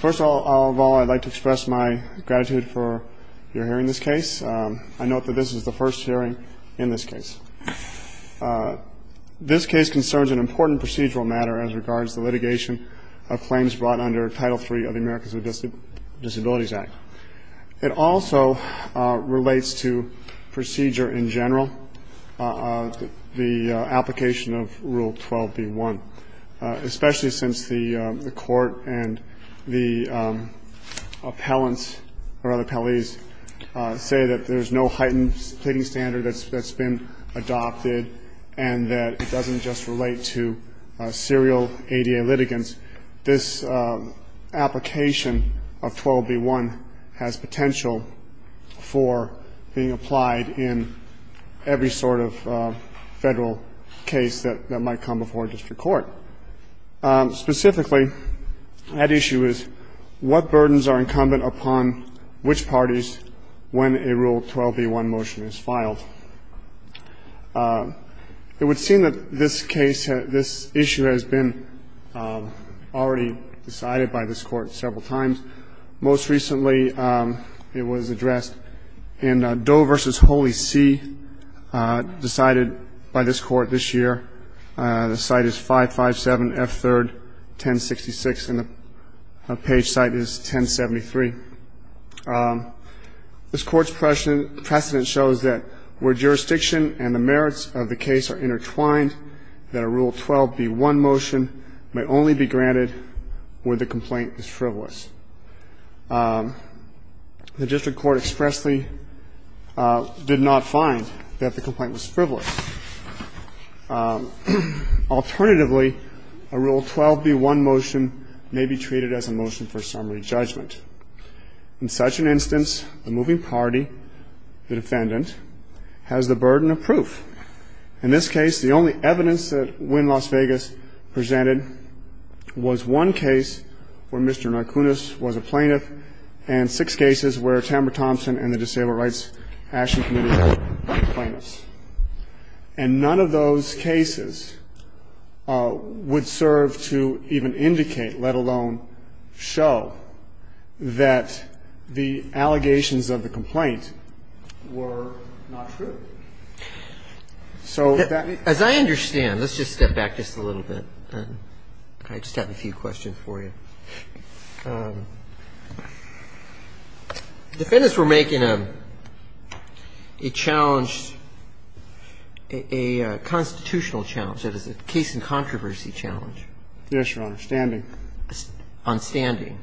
First of all, I'd like to express my gratitude for your hearing this case. I note that this is the first hearing in this case. This case concerns an important procedural matter as regards the litigation of claims brought under Title III of the Americans with Disabilities Act. It also relates to procedure in general, the application of Rule 12b-1. Especially since the Court and the appellants or other appellees say that there's no heightened pleading standard that's been adopted and that it doesn't just relate to serial ADA litigants. Specifically, that issue is, what burdens are incumbent upon which parties when a Rule 12b-1 motion is filed? It would seem that this case, this issue has been already decided by this Court several times. Most recently, it was addressed in Doe v. Holy See, decided by this Court this year. The site is 557 F3rd 1066, and the page site is 1073. This Court's precedent shows that where jurisdiction and the merits of the case are intertwined, that a Rule 12b-1 motion may only be granted where the complaint is frivolous. The district court expressly did not find that the complaint was frivolous. Alternatively, a Rule 12b-1 motion may be treated as a motion for summary judgment. In such an instance, the moving party, the defendant, has the burden of proof. In this case, the only evidence that Wynn Las Vegas presented was one case where Mr. Narcunas was a plaintiff and six cases where Tamara Thompson and the Disabled Rights Action Committee were plaintiffs. And none of those cases would serve to even indicate, let alone show, that the allegations of the complaint were not true. So that may be the case. As I understand, let's just step back just a little bit. I just have a few questions for you. The defendants were making a challenge, a constitutional challenge, that is, a case and controversy challenge. Yes, Your Honor. Standing. On standing.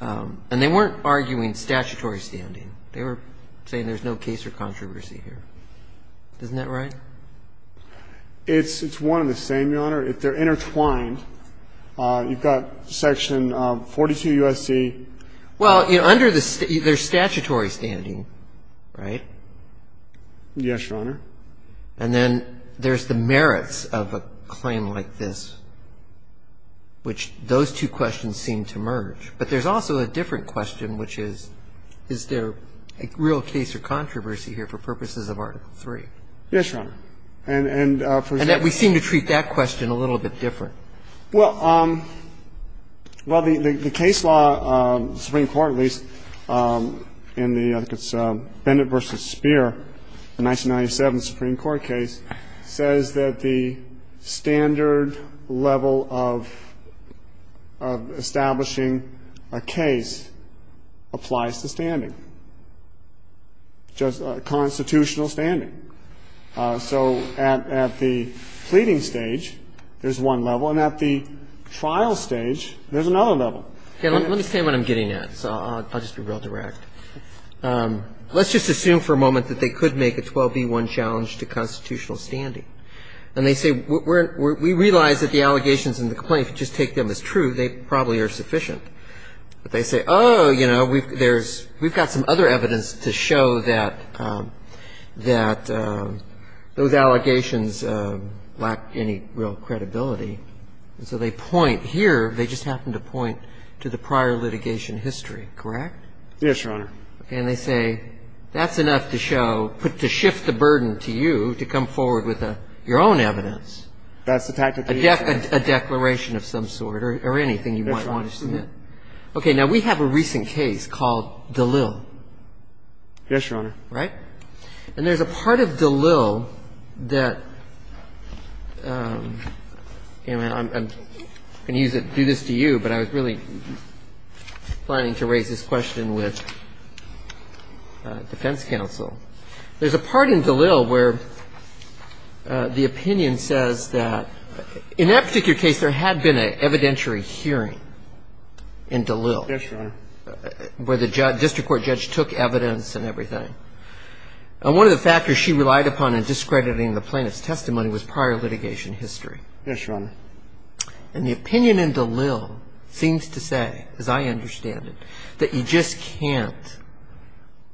And they weren't arguing statutory standing. They were saying there's no case or controversy here. It's one and the same, Your Honor. If they're intertwined, you've got Section 42 U.S.C. Well, under the state, there's statutory standing, right? Yes, Your Honor. And then there's the merits of a claim like this, which those two questions seem to merge. But there's also a different question, which is, is there a real case or controversy here for purposes of Article III? Yes, Your Honor. And that we seem to treat that question a little bit different. Well, the case law, the Supreme Court at least, in the Bennett v. Speer, the 1997 Supreme Court case, says that the standard level of establishing a case applies to standing, just constitutional standing. So at the pleading stage, there's one level. And at the trial stage, there's another level. Okay. Let me say what I'm getting at, so I'll just be real direct. Let's just assume for a moment that they could make a 12B1 challenge to constitutional standing. And they say, we realize that the allegations in the complaint, if you just take them as true, they probably are sufficient. But they say, oh, you know, we've got some other evidence to show that those allegations lack any real credibility. And so they point here, they just happen to point to the prior litigation history, correct? Yes, Your Honor. And they say, that's enough to show, to shift the burden to you to come forward with your own evidence. That's the tactic they use. A declaration of some sort or anything you might want to submit. Okay. Now, we have a recent case called DeLille. Yes, Your Honor. Right? And there's a part of DeLille that you know, I'm going to use it, do this to you, but I was really planning to raise this question with defense counsel. There's a part in DeLille where the opinion says that in that particular case there had been an evidentiary hearing in DeLille. Yes, Your Honor. Where the district court judge took evidence and everything. And one of the factors she relied upon in discrediting the plaintiff's testimony was prior litigation history. Yes, Your Honor. And the opinion in DeLille seems to say, as I understand it, that you just can't,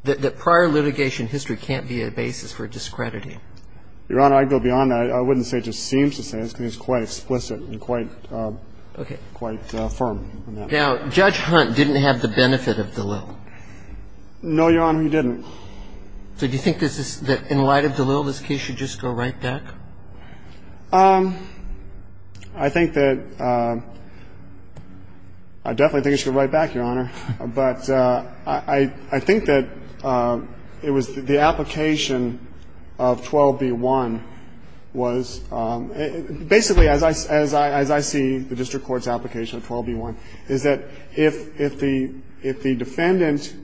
that prior litigation history can't be a basis for discrediting. Your Honor, I'd go beyond that. I wouldn't say it just seems to say this because it's quite explicit and quite firm. Now, Judge Hunt didn't have the benefit of DeLille. No, Your Honor, he didn't. So do you think that in light of DeLille, this case should just go right back? I think that, I definitely think it should go right back, Your Honor. But I think that it was the application of 12b-1 was, basically as I see the district court's application of 12b-1, is that if the defendant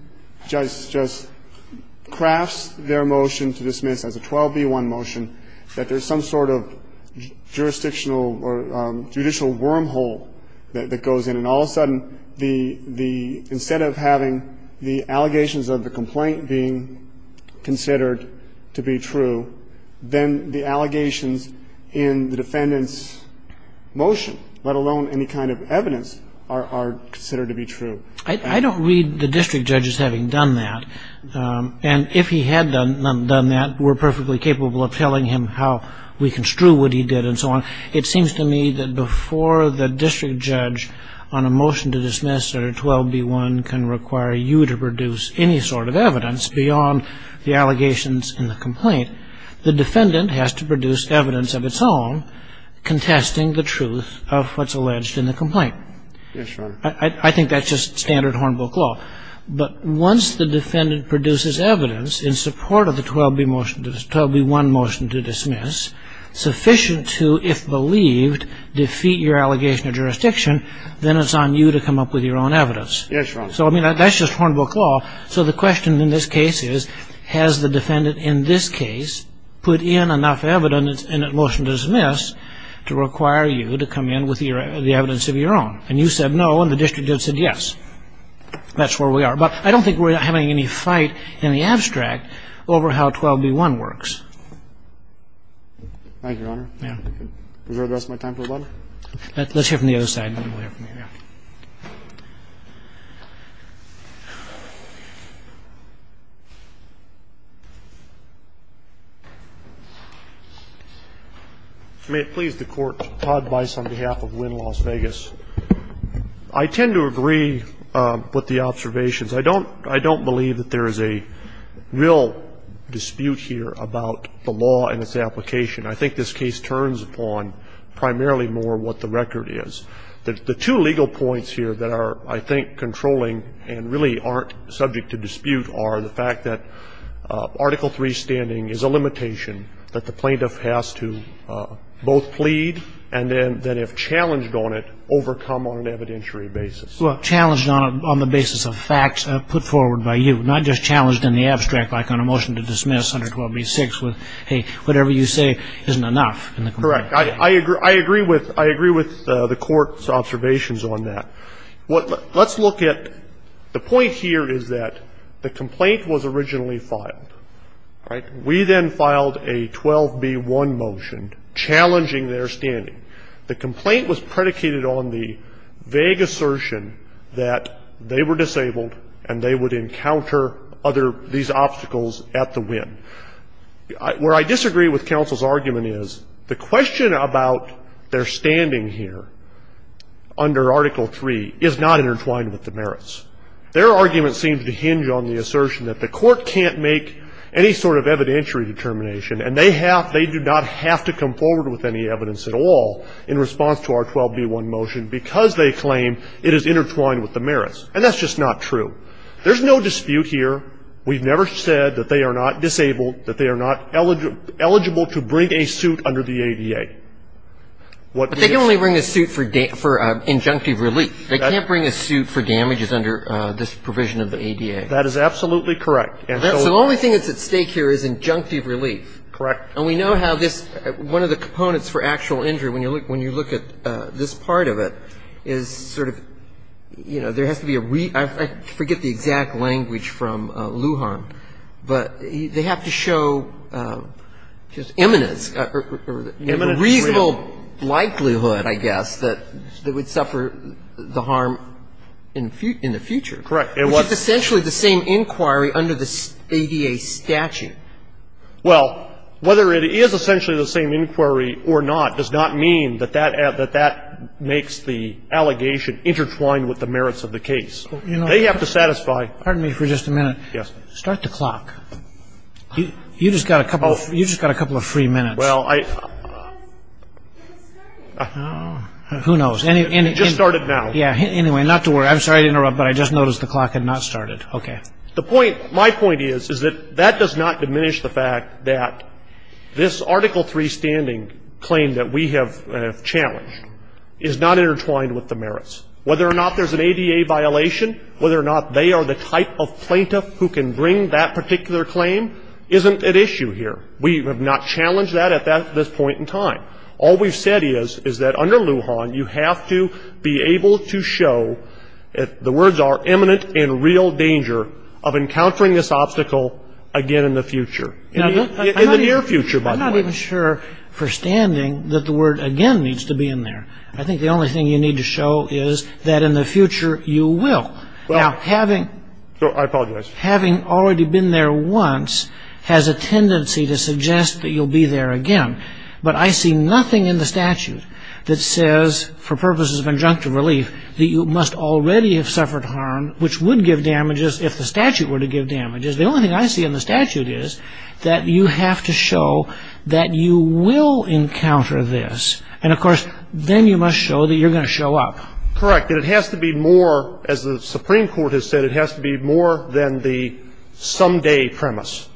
just crafts their motion to dismiss as a 12b-1 motion, that there's some sort of jurisdictional or judicial wormhole that goes in. And all of a sudden, instead of having the allegations of the complaint being considered to be true, then the allegations in the defendant's motion, let alone any kind of evidence, are considered to be true. I don't read the district judges having done that. And if he had done that, we're perfectly capable of telling him how we construe what he did and so on. It seems to me that before the district judge on a motion to dismiss or a 12b-1 can require you to produce any sort of evidence beyond the allegations in the complaint, the defendant has to produce evidence of its own contesting the truth of what's alleged in the complaint. Yes, Your Honor. I think that's just standard Hornbook law. But once the defendant produces evidence in support of the 12b-1 motion to dismiss, sufficient to, if believed, defeat your allegation of jurisdiction, then it's on you to come up with your own evidence. Yes, Your Honor. So, I mean, that's just Hornbook law. So the question in this case is, has the defendant in this case put in enough evidence in a motion to dismiss to require you to come in with the evidence of your own? And you said no, and the district judge said yes. That's where we are. But I don't think we're having any fight in the abstract over how 12b-1 works. Thank you, Your Honor. Yeah. Is there the rest of my time for a moment? Let's hear from the other side and then we'll hear from you, yeah. May it please the Court. Todd Bice on behalf of Wynn Las Vegas. I tend to agree with the observations. I don't believe that there is a real dispute here about the law and its application. I think this case turns upon primarily more what the record is. The two legal points here that are, I think, controlling and really aren't subject to dispute are the fact that Article III standing is a limitation that the plaintiff has to both plead and then, if challenged on it, overcome on an evidentiary basis. Well, challenged on the basis of facts put forward by you, not just challenged in the abstract, like on a motion to dismiss under 12b-6 with, hey, whatever you say isn't enough. Correct. I agree with the Court's observations on that. Let's look at the point here is that the complaint was originally filed, right? We then filed a 12b-1 motion challenging their standing. The complaint was predicated on the vague assertion that they were disabled and they would encounter these obstacles at the Wynn. Where I disagree with counsel's argument is the question about their standing here under Article III is not intertwined with the merits. Their argument seems to hinge on the assertion that the Court can't make any sort of evidentiary determination and they do not have to come forward with any evidence at all in response to our 12b-1 motion because they claim it is intertwined with the merits. And that's just not true. There's no dispute here. We've never said that they are not disabled, that they are not eligible to bring a suit under the ADA. But they can only bring a suit for injunctive relief. They can't bring a suit for damages under this provision of the ADA. That is absolutely correct. And so the only thing that's at stake here is injunctive relief. Correct. And we know how this one of the components for actual injury, when you look at this part of it, is sort of, you know, there has to be a I forget the exact language from Lujan, but they have to show just imminence or reasonable likelihood, I guess, that they would suffer the harm in the future. Correct. Which is essentially the same inquiry under the ADA statute. Well, whether it is essentially the same inquiry or not does not mean that that makes the allegation intertwined with the merits of the case. They have to satisfy. Pardon me for just a minute. Start the clock. You just got a couple of free minutes. Well, I. It started. Who knows. It just started now. Yeah. Anyway, not to worry. I'm sorry to interrupt, but I just noticed the clock had not started. Okay. The point, my point is, is that that does not diminish the fact that this Article 3 standing claim that we have challenged is not intertwined with the merits. Whether or not there's an ADA violation, whether or not they are the type of plaintiff who can bring that particular claim isn't at issue here. We have not challenged that at this point in time. All we've said is, is that under Lujan, you have to be able to show, the words are, imminent and real danger of encountering this obstacle again in the future. In the near future, by the way. I'm not even sure, for standing, that the word again needs to be in there. I think the only thing you need to show is that in the future you will. Now, having. I apologize. Having already been there once has a tendency to suggest that you'll be there again. But I see nothing in the statute that says, for purposes of injunctive relief, that you must already have suffered harm, which would give damages if the statute were to give damages. The only thing I see in the statute is that you have to show that you will encounter this. And, of course, then you must show that you're going to show up. Correct. And it has to be more, as the Supreme Court has said, it has to be more than the someday premise.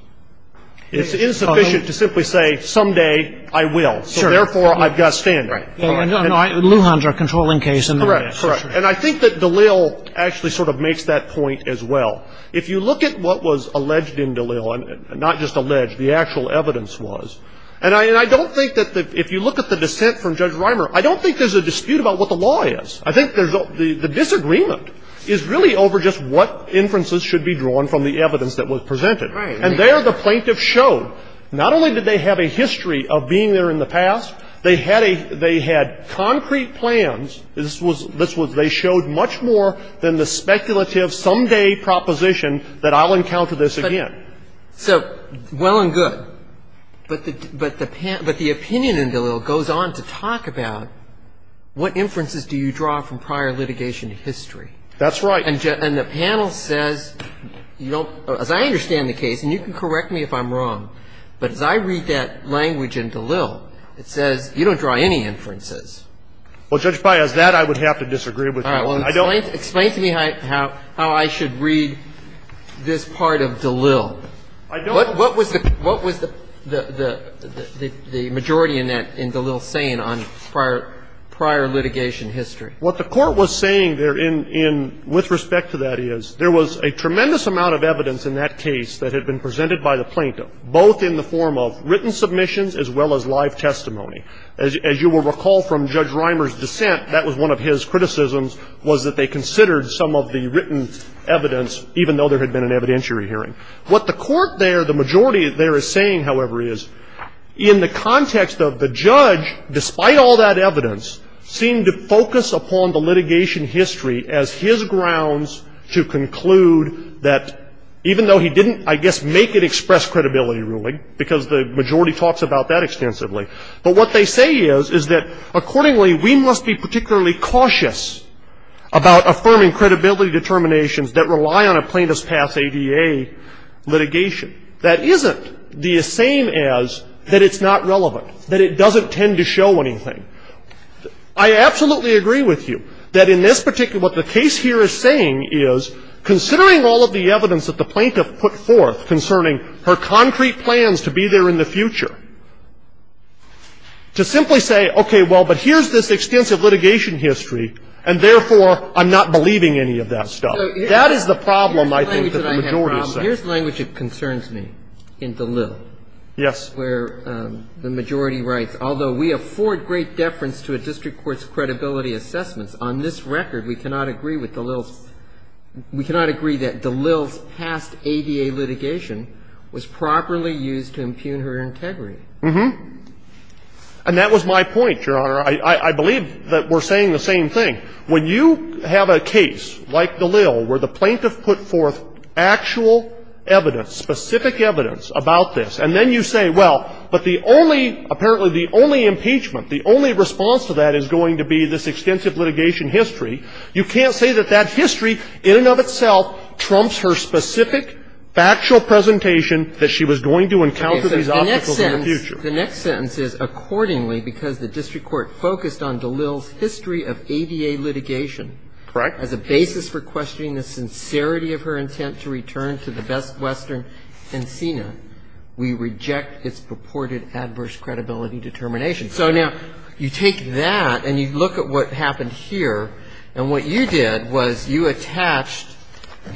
It's insufficient to simply say, someday I will. Therefore, I've got to stand there. Lujan is a controlling case. Correct. And I think that Dalil actually sort of makes that point as well. If you look at what was alleged in Dalil, not just alleged, the actual evidence was, and I don't think that if you look at the dissent from Judge Reimer, I don't think there's a dispute about what the law is. I think there's a disagreement is really over just what inferences should be drawn from the evidence that was presented. Right. And there the plaintiff showed, not only did they have a history of being there in the past, they had a, they had concrete plans. This was, they showed much more than the speculative someday proposition that I'll encounter this again. So, well and good. But the opinion in Dalil goes on to talk about what inferences do you draw from prior litigation history. That's right. And the panel says, you don't, as I understand the case, and you can correct me if I'm wrong, but as I read that language in Dalil, it says you don't draw any inferences. Well, Judge Breyer, as that, I would have to disagree with you. All right. Well, explain to me how I should read this part of Dalil. I don't. What was the majority in Dalil saying on prior litigation history? What the Court was saying there in, with respect to that is, there was a tremendous amount of evidence in that case that had been presented by the plaintiff, both in the form of written submissions as well as live testimony. As you will recall from Judge Reimer's dissent, that was one of his criticisms, was that they considered some of the written evidence, even though there had been an evidentiary hearing. What the Court there, the majority there is saying, however, is, in the context of the judge, despite all that evidence, seemed to focus upon the litigation history as his grounds to conclude that, even though he didn't, I guess, make it express credibility ruling, because the majority talks about that extensively, but what they say is, is that, accordingly, we must be particularly cautious about affirming credibility determinations that rely on a plaintiff's past ADA litigation. That isn't the same as that it's not relevant, that it doesn't tend to show anything. I absolutely agree with you that, in this particular, what the case here is saying is, considering all of the evidence that the plaintiff put forth concerning her concrete plans to be there in the future, to simply say, okay, well, but here's this extensive litigation history, and therefore, I'm not believing any of that stuff. That is the problem, I think, that the majority is saying. Now, here's the language that concerns me in DeLille. Yes. Where the majority writes, although we afford great deference to a district court's credibility assessments, on this record, we cannot agree with DeLille's – we cannot agree that DeLille's past ADA litigation was properly used to impugn her integrity. Uh-huh. And that was my point, Your Honor. I believe that we're saying the same thing. When you have a case like DeLille where the plaintiff put forth actual evidence, specific evidence about this, and then you say, well, but the only – apparently the only impeachment, the only response to that is going to be this extensive litigation history, you can't say that that history, in and of itself, trumps her specific factual presentation that she was going to encounter these obstacles in the future. The next sentence is, accordingly, because the district court focused on DeLille's history of ADA litigation as a basis for questioning the sincerity of her intent to return to the Best Western Encina, we reject its purported adverse credibility determination. So now you take that and you look at what happened here, and what you did was you attached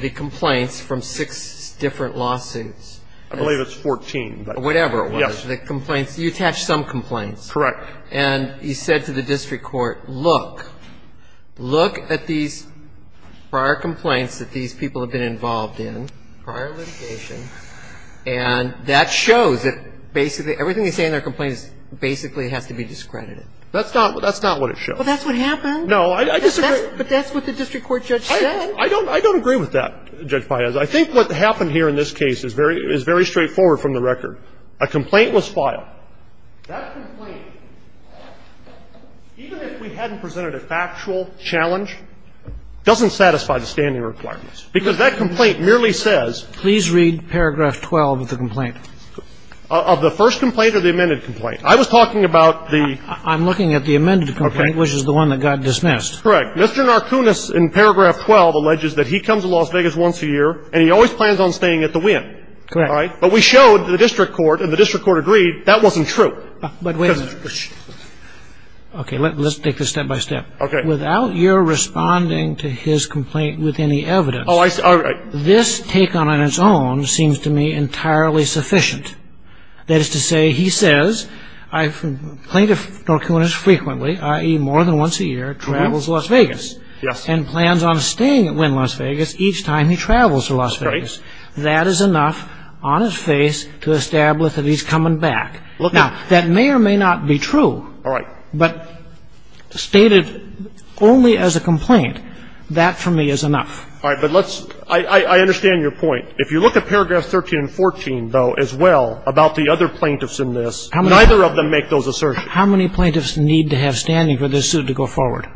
the complaints from six different lawsuits. I believe it's 14. Whatever it was. The complaints, you attached some complaints. Correct. And you said to the district court, look. Look at these prior complaints that these people have been involved in, prior litigation, and that shows that basically everything they say in their complaints basically has to be discredited. That's not what it shows. Well, that's what happened. No, I disagree. But that's what the district court judge said. I don't agree with that, Judge Paez. I think what happened here in this case is very straightforward from the record. A complaint was filed. That complaint, even if we hadn't presented a factual challenge, doesn't satisfy the standing requirements, because that complaint merely says ---- Please read paragraph 12 of the complaint. Of the first complaint or the amended complaint? I was talking about the ---- I'm looking at the amended complaint, which is the one that got dismissed. Correct. Mr. Narkunis in paragraph 12 alleges that he comes to Las Vegas once a year, and he always plans on staying at the Winn. Correct. But we showed the district court, and the district court agreed that wasn't true. But wait a minute. Okay. Let's take this step by step. Okay. Without your responding to his complaint with any evidence ---- Oh, I see. All right. This taken on its own seems to me entirely sufficient. That is to say, he says plaintiff Narkunis frequently, i.e., more than once a year, travels to Las Vegas. Yes. And plans on staying at Winn Las Vegas each time he travels to Las Vegas. Right. That is enough on its face to establish that he's coming back. Now, that may or may not be true. All right. But stated only as a complaint, that for me is enough. All right. But let's ---- I understand your point. If you look at paragraphs 13 and 14, though, as well, about the other plaintiffs in this, neither of them make those assertions. How many plaintiffs need to have standing for this suit to go forward?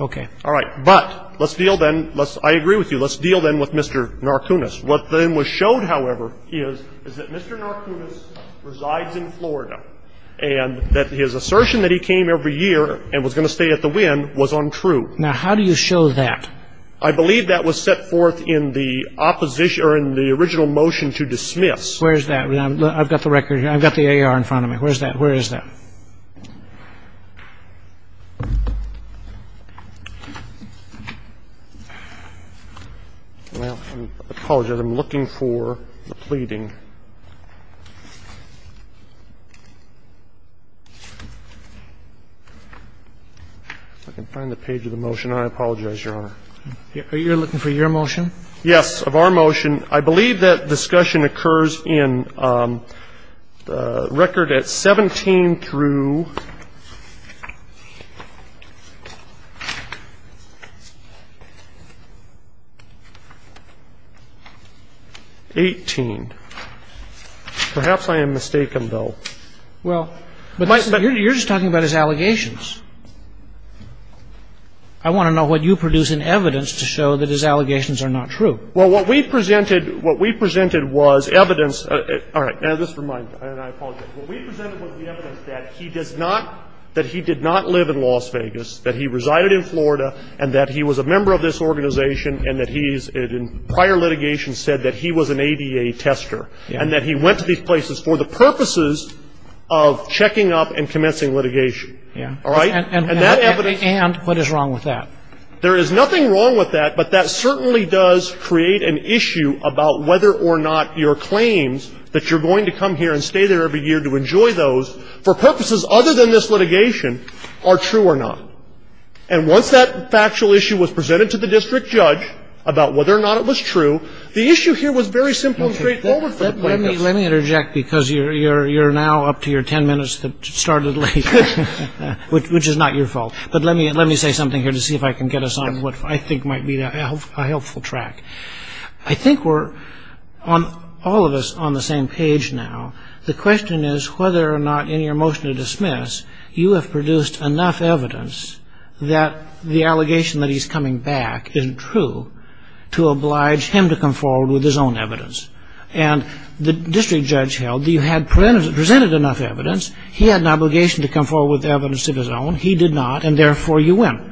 Okay. All right. But let's deal then ---- I agree with you. Let's deal then with Mr. Narkunis. What then was showed, however, is that Mr. Narkunis resides in Florida and that his assertion that he came every year and was going to stay at the Winn was untrue. Now, how do you show that? I believe that was set forth in the opposition or in the original motion to dismiss. Where is that? I've got the record. I've got the AR in front of me. Where is that? Where is that? Well, I apologize. I'm looking for the pleading. If I can find the page of the motion. I apologize, Your Honor. Are you looking for your motion? Yes, of our motion. I believe that discussion occurs in record at 17 through 18. Perhaps I am mistaken, though. Well, you're just talking about his allegations. I want to know what you produce in evidence to show that his allegations are not true. Well, what we presented was evidence. All right. Now, just a reminder, and I apologize. What we presented was the evidence that he does not, that he did not live in Las Vegas, that he resided in Florida, and that he was a member of this organization, and that he's, in prior litigation, said that he was an ADA tester, and that he went to these places for the purposes of checking up and commencing litigation. All right? And what is wrong with that? There is nothing wrong with that, but that certainly does create an issue about whether or not your claims that you're going to come here and stay there every year to enjoy those for purposes other than this litigation are true or not. And once that factual issue was presented to the district judge about whether or not it was true, the issue here was very simple and straightforward for the plaintiffs. Let me interject because you're now up to your 10 minutes that started late, which is not your fault. But let me say something here to see if I can get us on what I think might be a helpful track. I think we're, all of us, on the same page now. The question is whether or not, in your motion to dismiss, you have produced enough evidence that the allegation that he's coming back isn't true to oblige him to come forward with his own evidence. And the district judge held that you had presented enough evidence. He had an obligation to come forward with evidence of his own. He did not. And therefore, you went.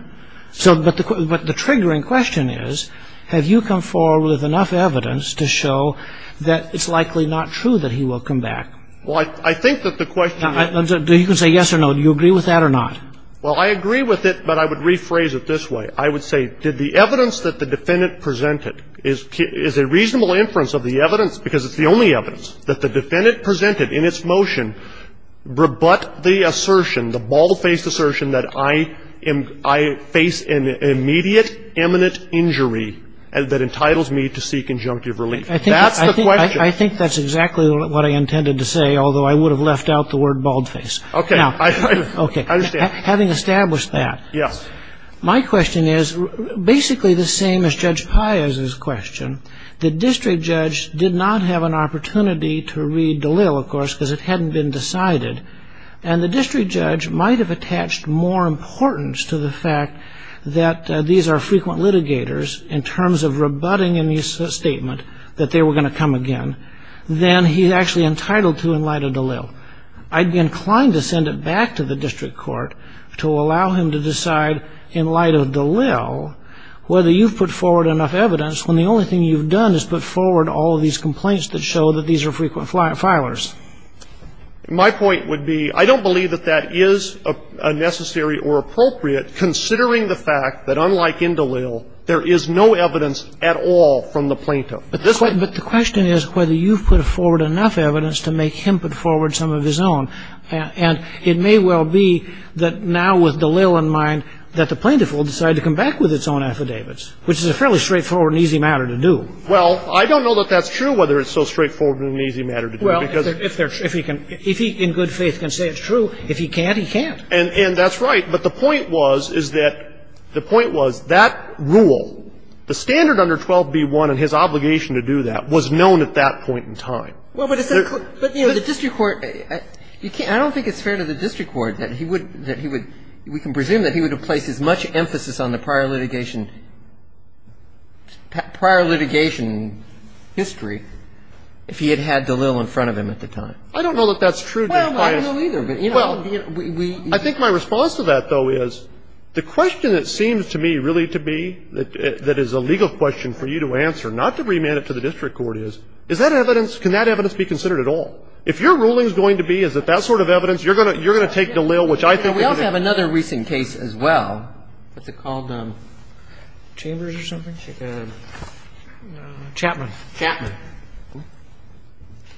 So, but the triggering question is, have you come forward with enough evidence to show that it's likely not true that he will come back? Well, I think that the question is do you say yes or no? Do you agree with that or not? Well, I agree with it, but I would rephrase it this way. I would say, did the evidence that the defendant presented, is a reasonable inference of the evidence, because it's the only evidence, that the defendant I face an immediate, imminent injury that entitles me to seek injunctive relief. That's the question. I think that's exactly what I intended to say, although I would have left out the word baldface. Okay. Now, okay. I understand. Having established that. Yes. My question is basically the same as Judge Pius's question. The district judge did not have an opportunity to read DeLille, of course, because it hadn't been decided. And the district judge might have attached more importance to the fact that these are frequent litigators in terms of rebutting in the statement that they were going to come again than he's actually entitled to in light of DeLille. I'd be inclined to send it back to the district court to allow him to decide in light of DeLille whether you've put forward enough evidence when the only thing you've done is put forward all of these complaints that show that these are frequent filers. My point would be I don't believe that that is a necessary or appropriate considering the fact that unlike in DeLille, there is no evidence at all from the plaintiff. But the question is whether you've put forward enough evidence to make him put forward some of his own. And it may well be that now with DeLille in mind that the plaintiff will decide to come back with its own affidavits, which is a fairly straightforward and easy matter to do. Well, I don't know that that's true, whether it's so straightforward and an easy matter to do. Well, if he can, if he in good faith can say it's true, if he can't, he can't. And that's right. But the point was, is that the point was that rule, the standard under 12b-1 and his obligation to do that was known at that point in time. Well, but the district court, I don't think it's fair to the district court that he would, we can presume that he would have placed as much emphasis on the prior litigation history if he had had DeLille in front of him at the time. I don't know that that's true. Well, I don't know either. Well, I think my response to that, though, is the question that seems to me really to be, that is a legal question for you to answer, not to remand it to the district court is, is that evidence, can that evidence be considered at all? If your ruling is going to be, is it that sort of evidence, you're going to take DeLille, which I think is a good case. We also have another recent case as well. What's it called? Chambers or something? Chapman. Chapman.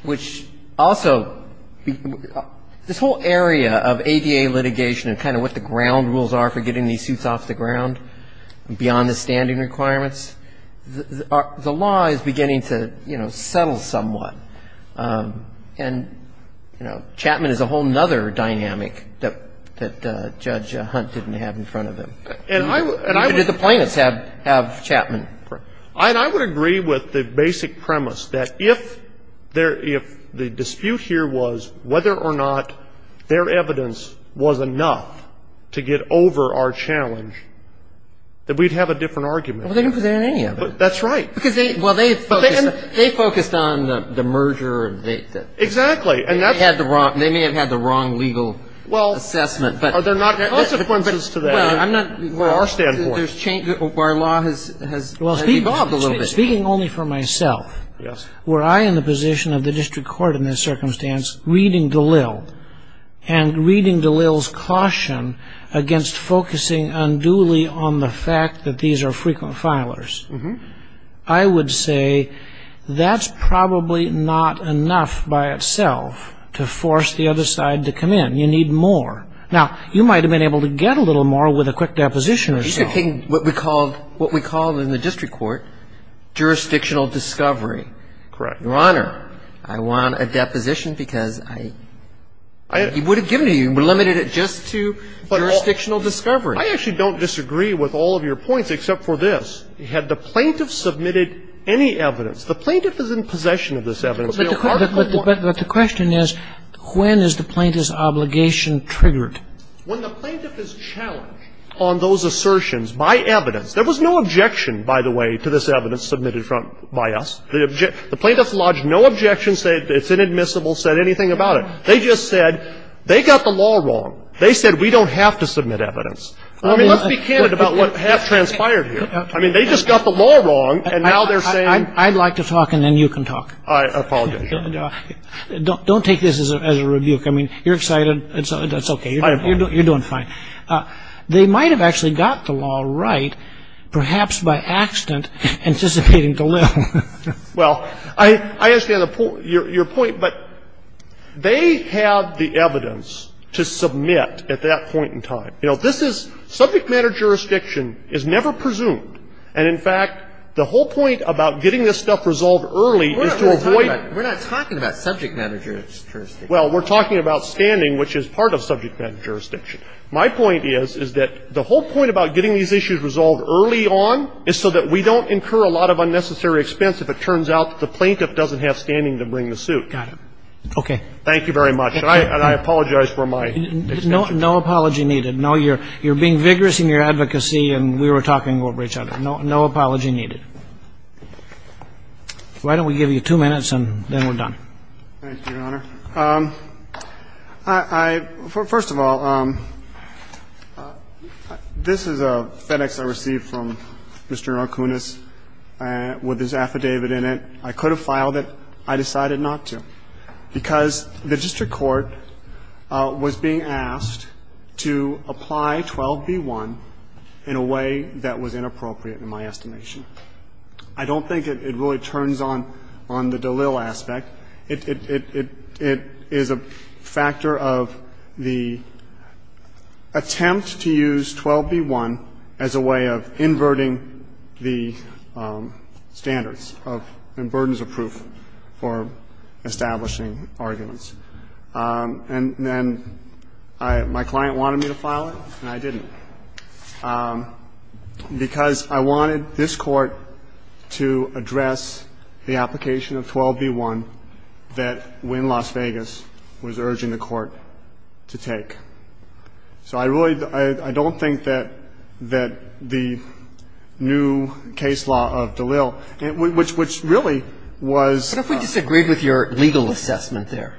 Which also, this whole area of ADA litigation and kind of what the ground rules are for getting these suits off the ground beyond the standing requirements, the law is beginning to, you know, settle somewhat. And, you know, Chapman is a whole other dynamic that Judge Hunt didn't have in front of him. And I would. Even did the plaintiffs have Chapman. And I would agree with the basic premise that if there, if the dispute here was whether or not their evidence was enough to get over our challenge, that we'd have a different argument. Well, they didn't present any of it. That's right. Because they, well, they focused on the merger. Exactly. And that's. They may have had the wrong legal assessment. Well, they're not consequences to that. Well, I'm not. From our standpoint. Well, our law has evolved a little bit. Speaking only for myself. Yes. Were I in the position of the district court in this circumstance reading DeLille and reading DeLille's caution against focusing unduly on the fact that these are frequent filers. I would say that's probably not enough by itself to force the other side to come in. You need more. Now, you might have been able to get a little more with a quick deposition or so. He's taking what we call, what we call in the district court jurisdictional discovery. Correct. Your Honor, I want a deposition because I. I. He would have given it to you and limited it just to jurisdictional discovery. I actually don't disagree with all of your points except for this. Had the plaintiff submitted any evidence. The plaintiff is in possession of this evidence. But the question is, when is the plaintiff's obligation triggered? When the plaintiff is challenged on those assertions by evidence. There was no objection, by the way, to this evidence submitted by us. The plaintiff lodged no objection, said it's inadmissible, said anything about it. They just said they got the law wrong. They said we don't have to submit evidence. I mean, let's be candid about what transpired here. I mean, they just got the law wrong, and now they're saying. I'd like to talk and then you can talk. I apologize, Your Honor. Don't take this as a rebuke. I mean, you're excited. That's okay. You're doing fine. They might have actually got the law right, perhaps by accident, anticipating the little. Well, I understand your point, but they have the evidence to submit at that point in time. I mean, this is subject matter jurisdiction. You know, this is subject matter jurisdiction is never presumed. And in fact, the whole point about getting this stuff resolved early is to avoid We're not talking about subject matter jurisdiction. Well, we're talking about standing, which is part of subject matter jurisdiction. My point is, is that the whole point about getting these issues resolved early on is so that we don't incur a lot of unnecessary expense if it turns out that the plaintiff doesn't have standing to bring the suit. Got it. Okay. Thank you very much. And I apologize for my extension. No apology needed. No, you're being vigorous in your advocacy, and we were talking over each other. No apology needed. Why don't we give you two minutes, and then we're done. Thank you, Your Honor. First of all, this is a FedEx I received from Mr. Arconis with his affidavit in it. And I could have filed it. I decided not to, because the district court was being asked to apply 12b-1 in a way that was inappropriate in my estimation. I don't think it really turns on the Dalil aspect. It is a factor of the attempt to use 12b-1 as a way of inverting the standards and burdens of proof for establishing arguments. And then my client wanted me to file it, and I didn't, because I wanted this Court to address the application of 12b-1 that Wynn Las Vegas was urging the Court to take. So I don't think that the new case law of Dalil, which really was ‑‑ What if we disagreed with your legal assessment there?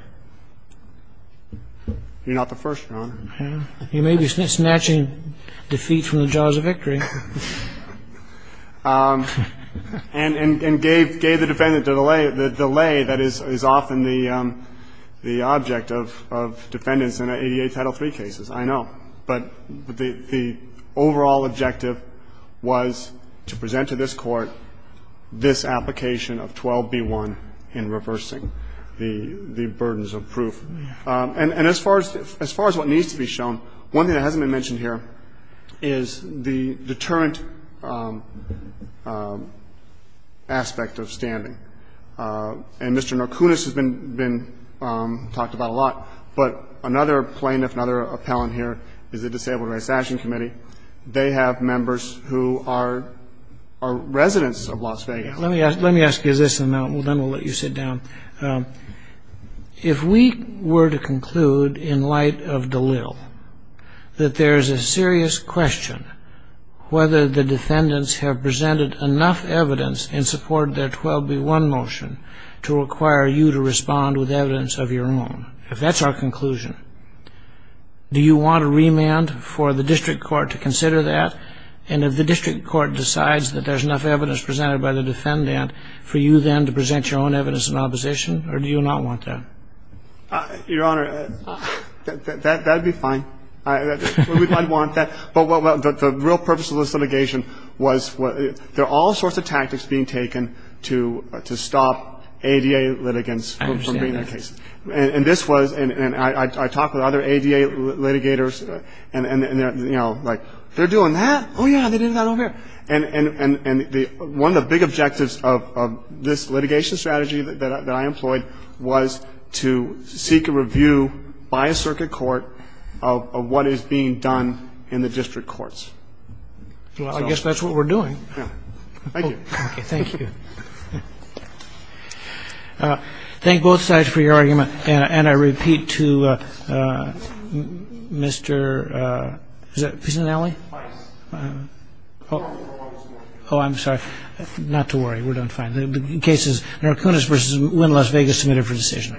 You're not the first, Your Honor. You may be snatching defeat from the jaws of victory. And gave the defendant the delay that is often the object of defendants in 88 Title III cases. I know. But the overall objective was to present to this Court this application of 12b-1 in reversing the burdens of proof. And as far as what needs to be shown, one thing that hasn't been mentioned here is the deterrent aspect of standing. And Mr. Narkunis has been talked about a lot, but another plaintiff, another appellant here is the Disabled Rights Action Committee. They have members who are residents of Las Vegas. Let me ask you this, and then we'll let you sit down. If we were to conclude in light of Dalil that there is a serious question whether the defendants have presented enough evidence in support of their 12b-1 motion to require you to respond with evidence of your own, if that's our conclusion, do you want a remand for the District Court to consider that? And if the District Court decides that there's enough evidence presented by the defendant for you then to present your own evidence in opposition, or do you not want that? Your Honor, that would be fine. We might want that. But the real purpose of this litigation was there are all sorts of tactics being taken to stop ADA litigants from being in a case. I understand that. And this was, and I talked with other ADA litigators, and, you know, like, they're doing that? Oh, yeah, they did that over here. And one of the big objectives of this litigation strategy that I employed was to seek a review by a circuit court of what is being done in the District Courts. Well, I guess that's what we're doing. Thank you. Thank you. Thank both sides for your argument. And I repeat to Mr. Pisanelli. Oh, I'm sorry. Not to worry. We're doing fine. The case is Narcones v. Wynn, Las Vegas, submitted for decision.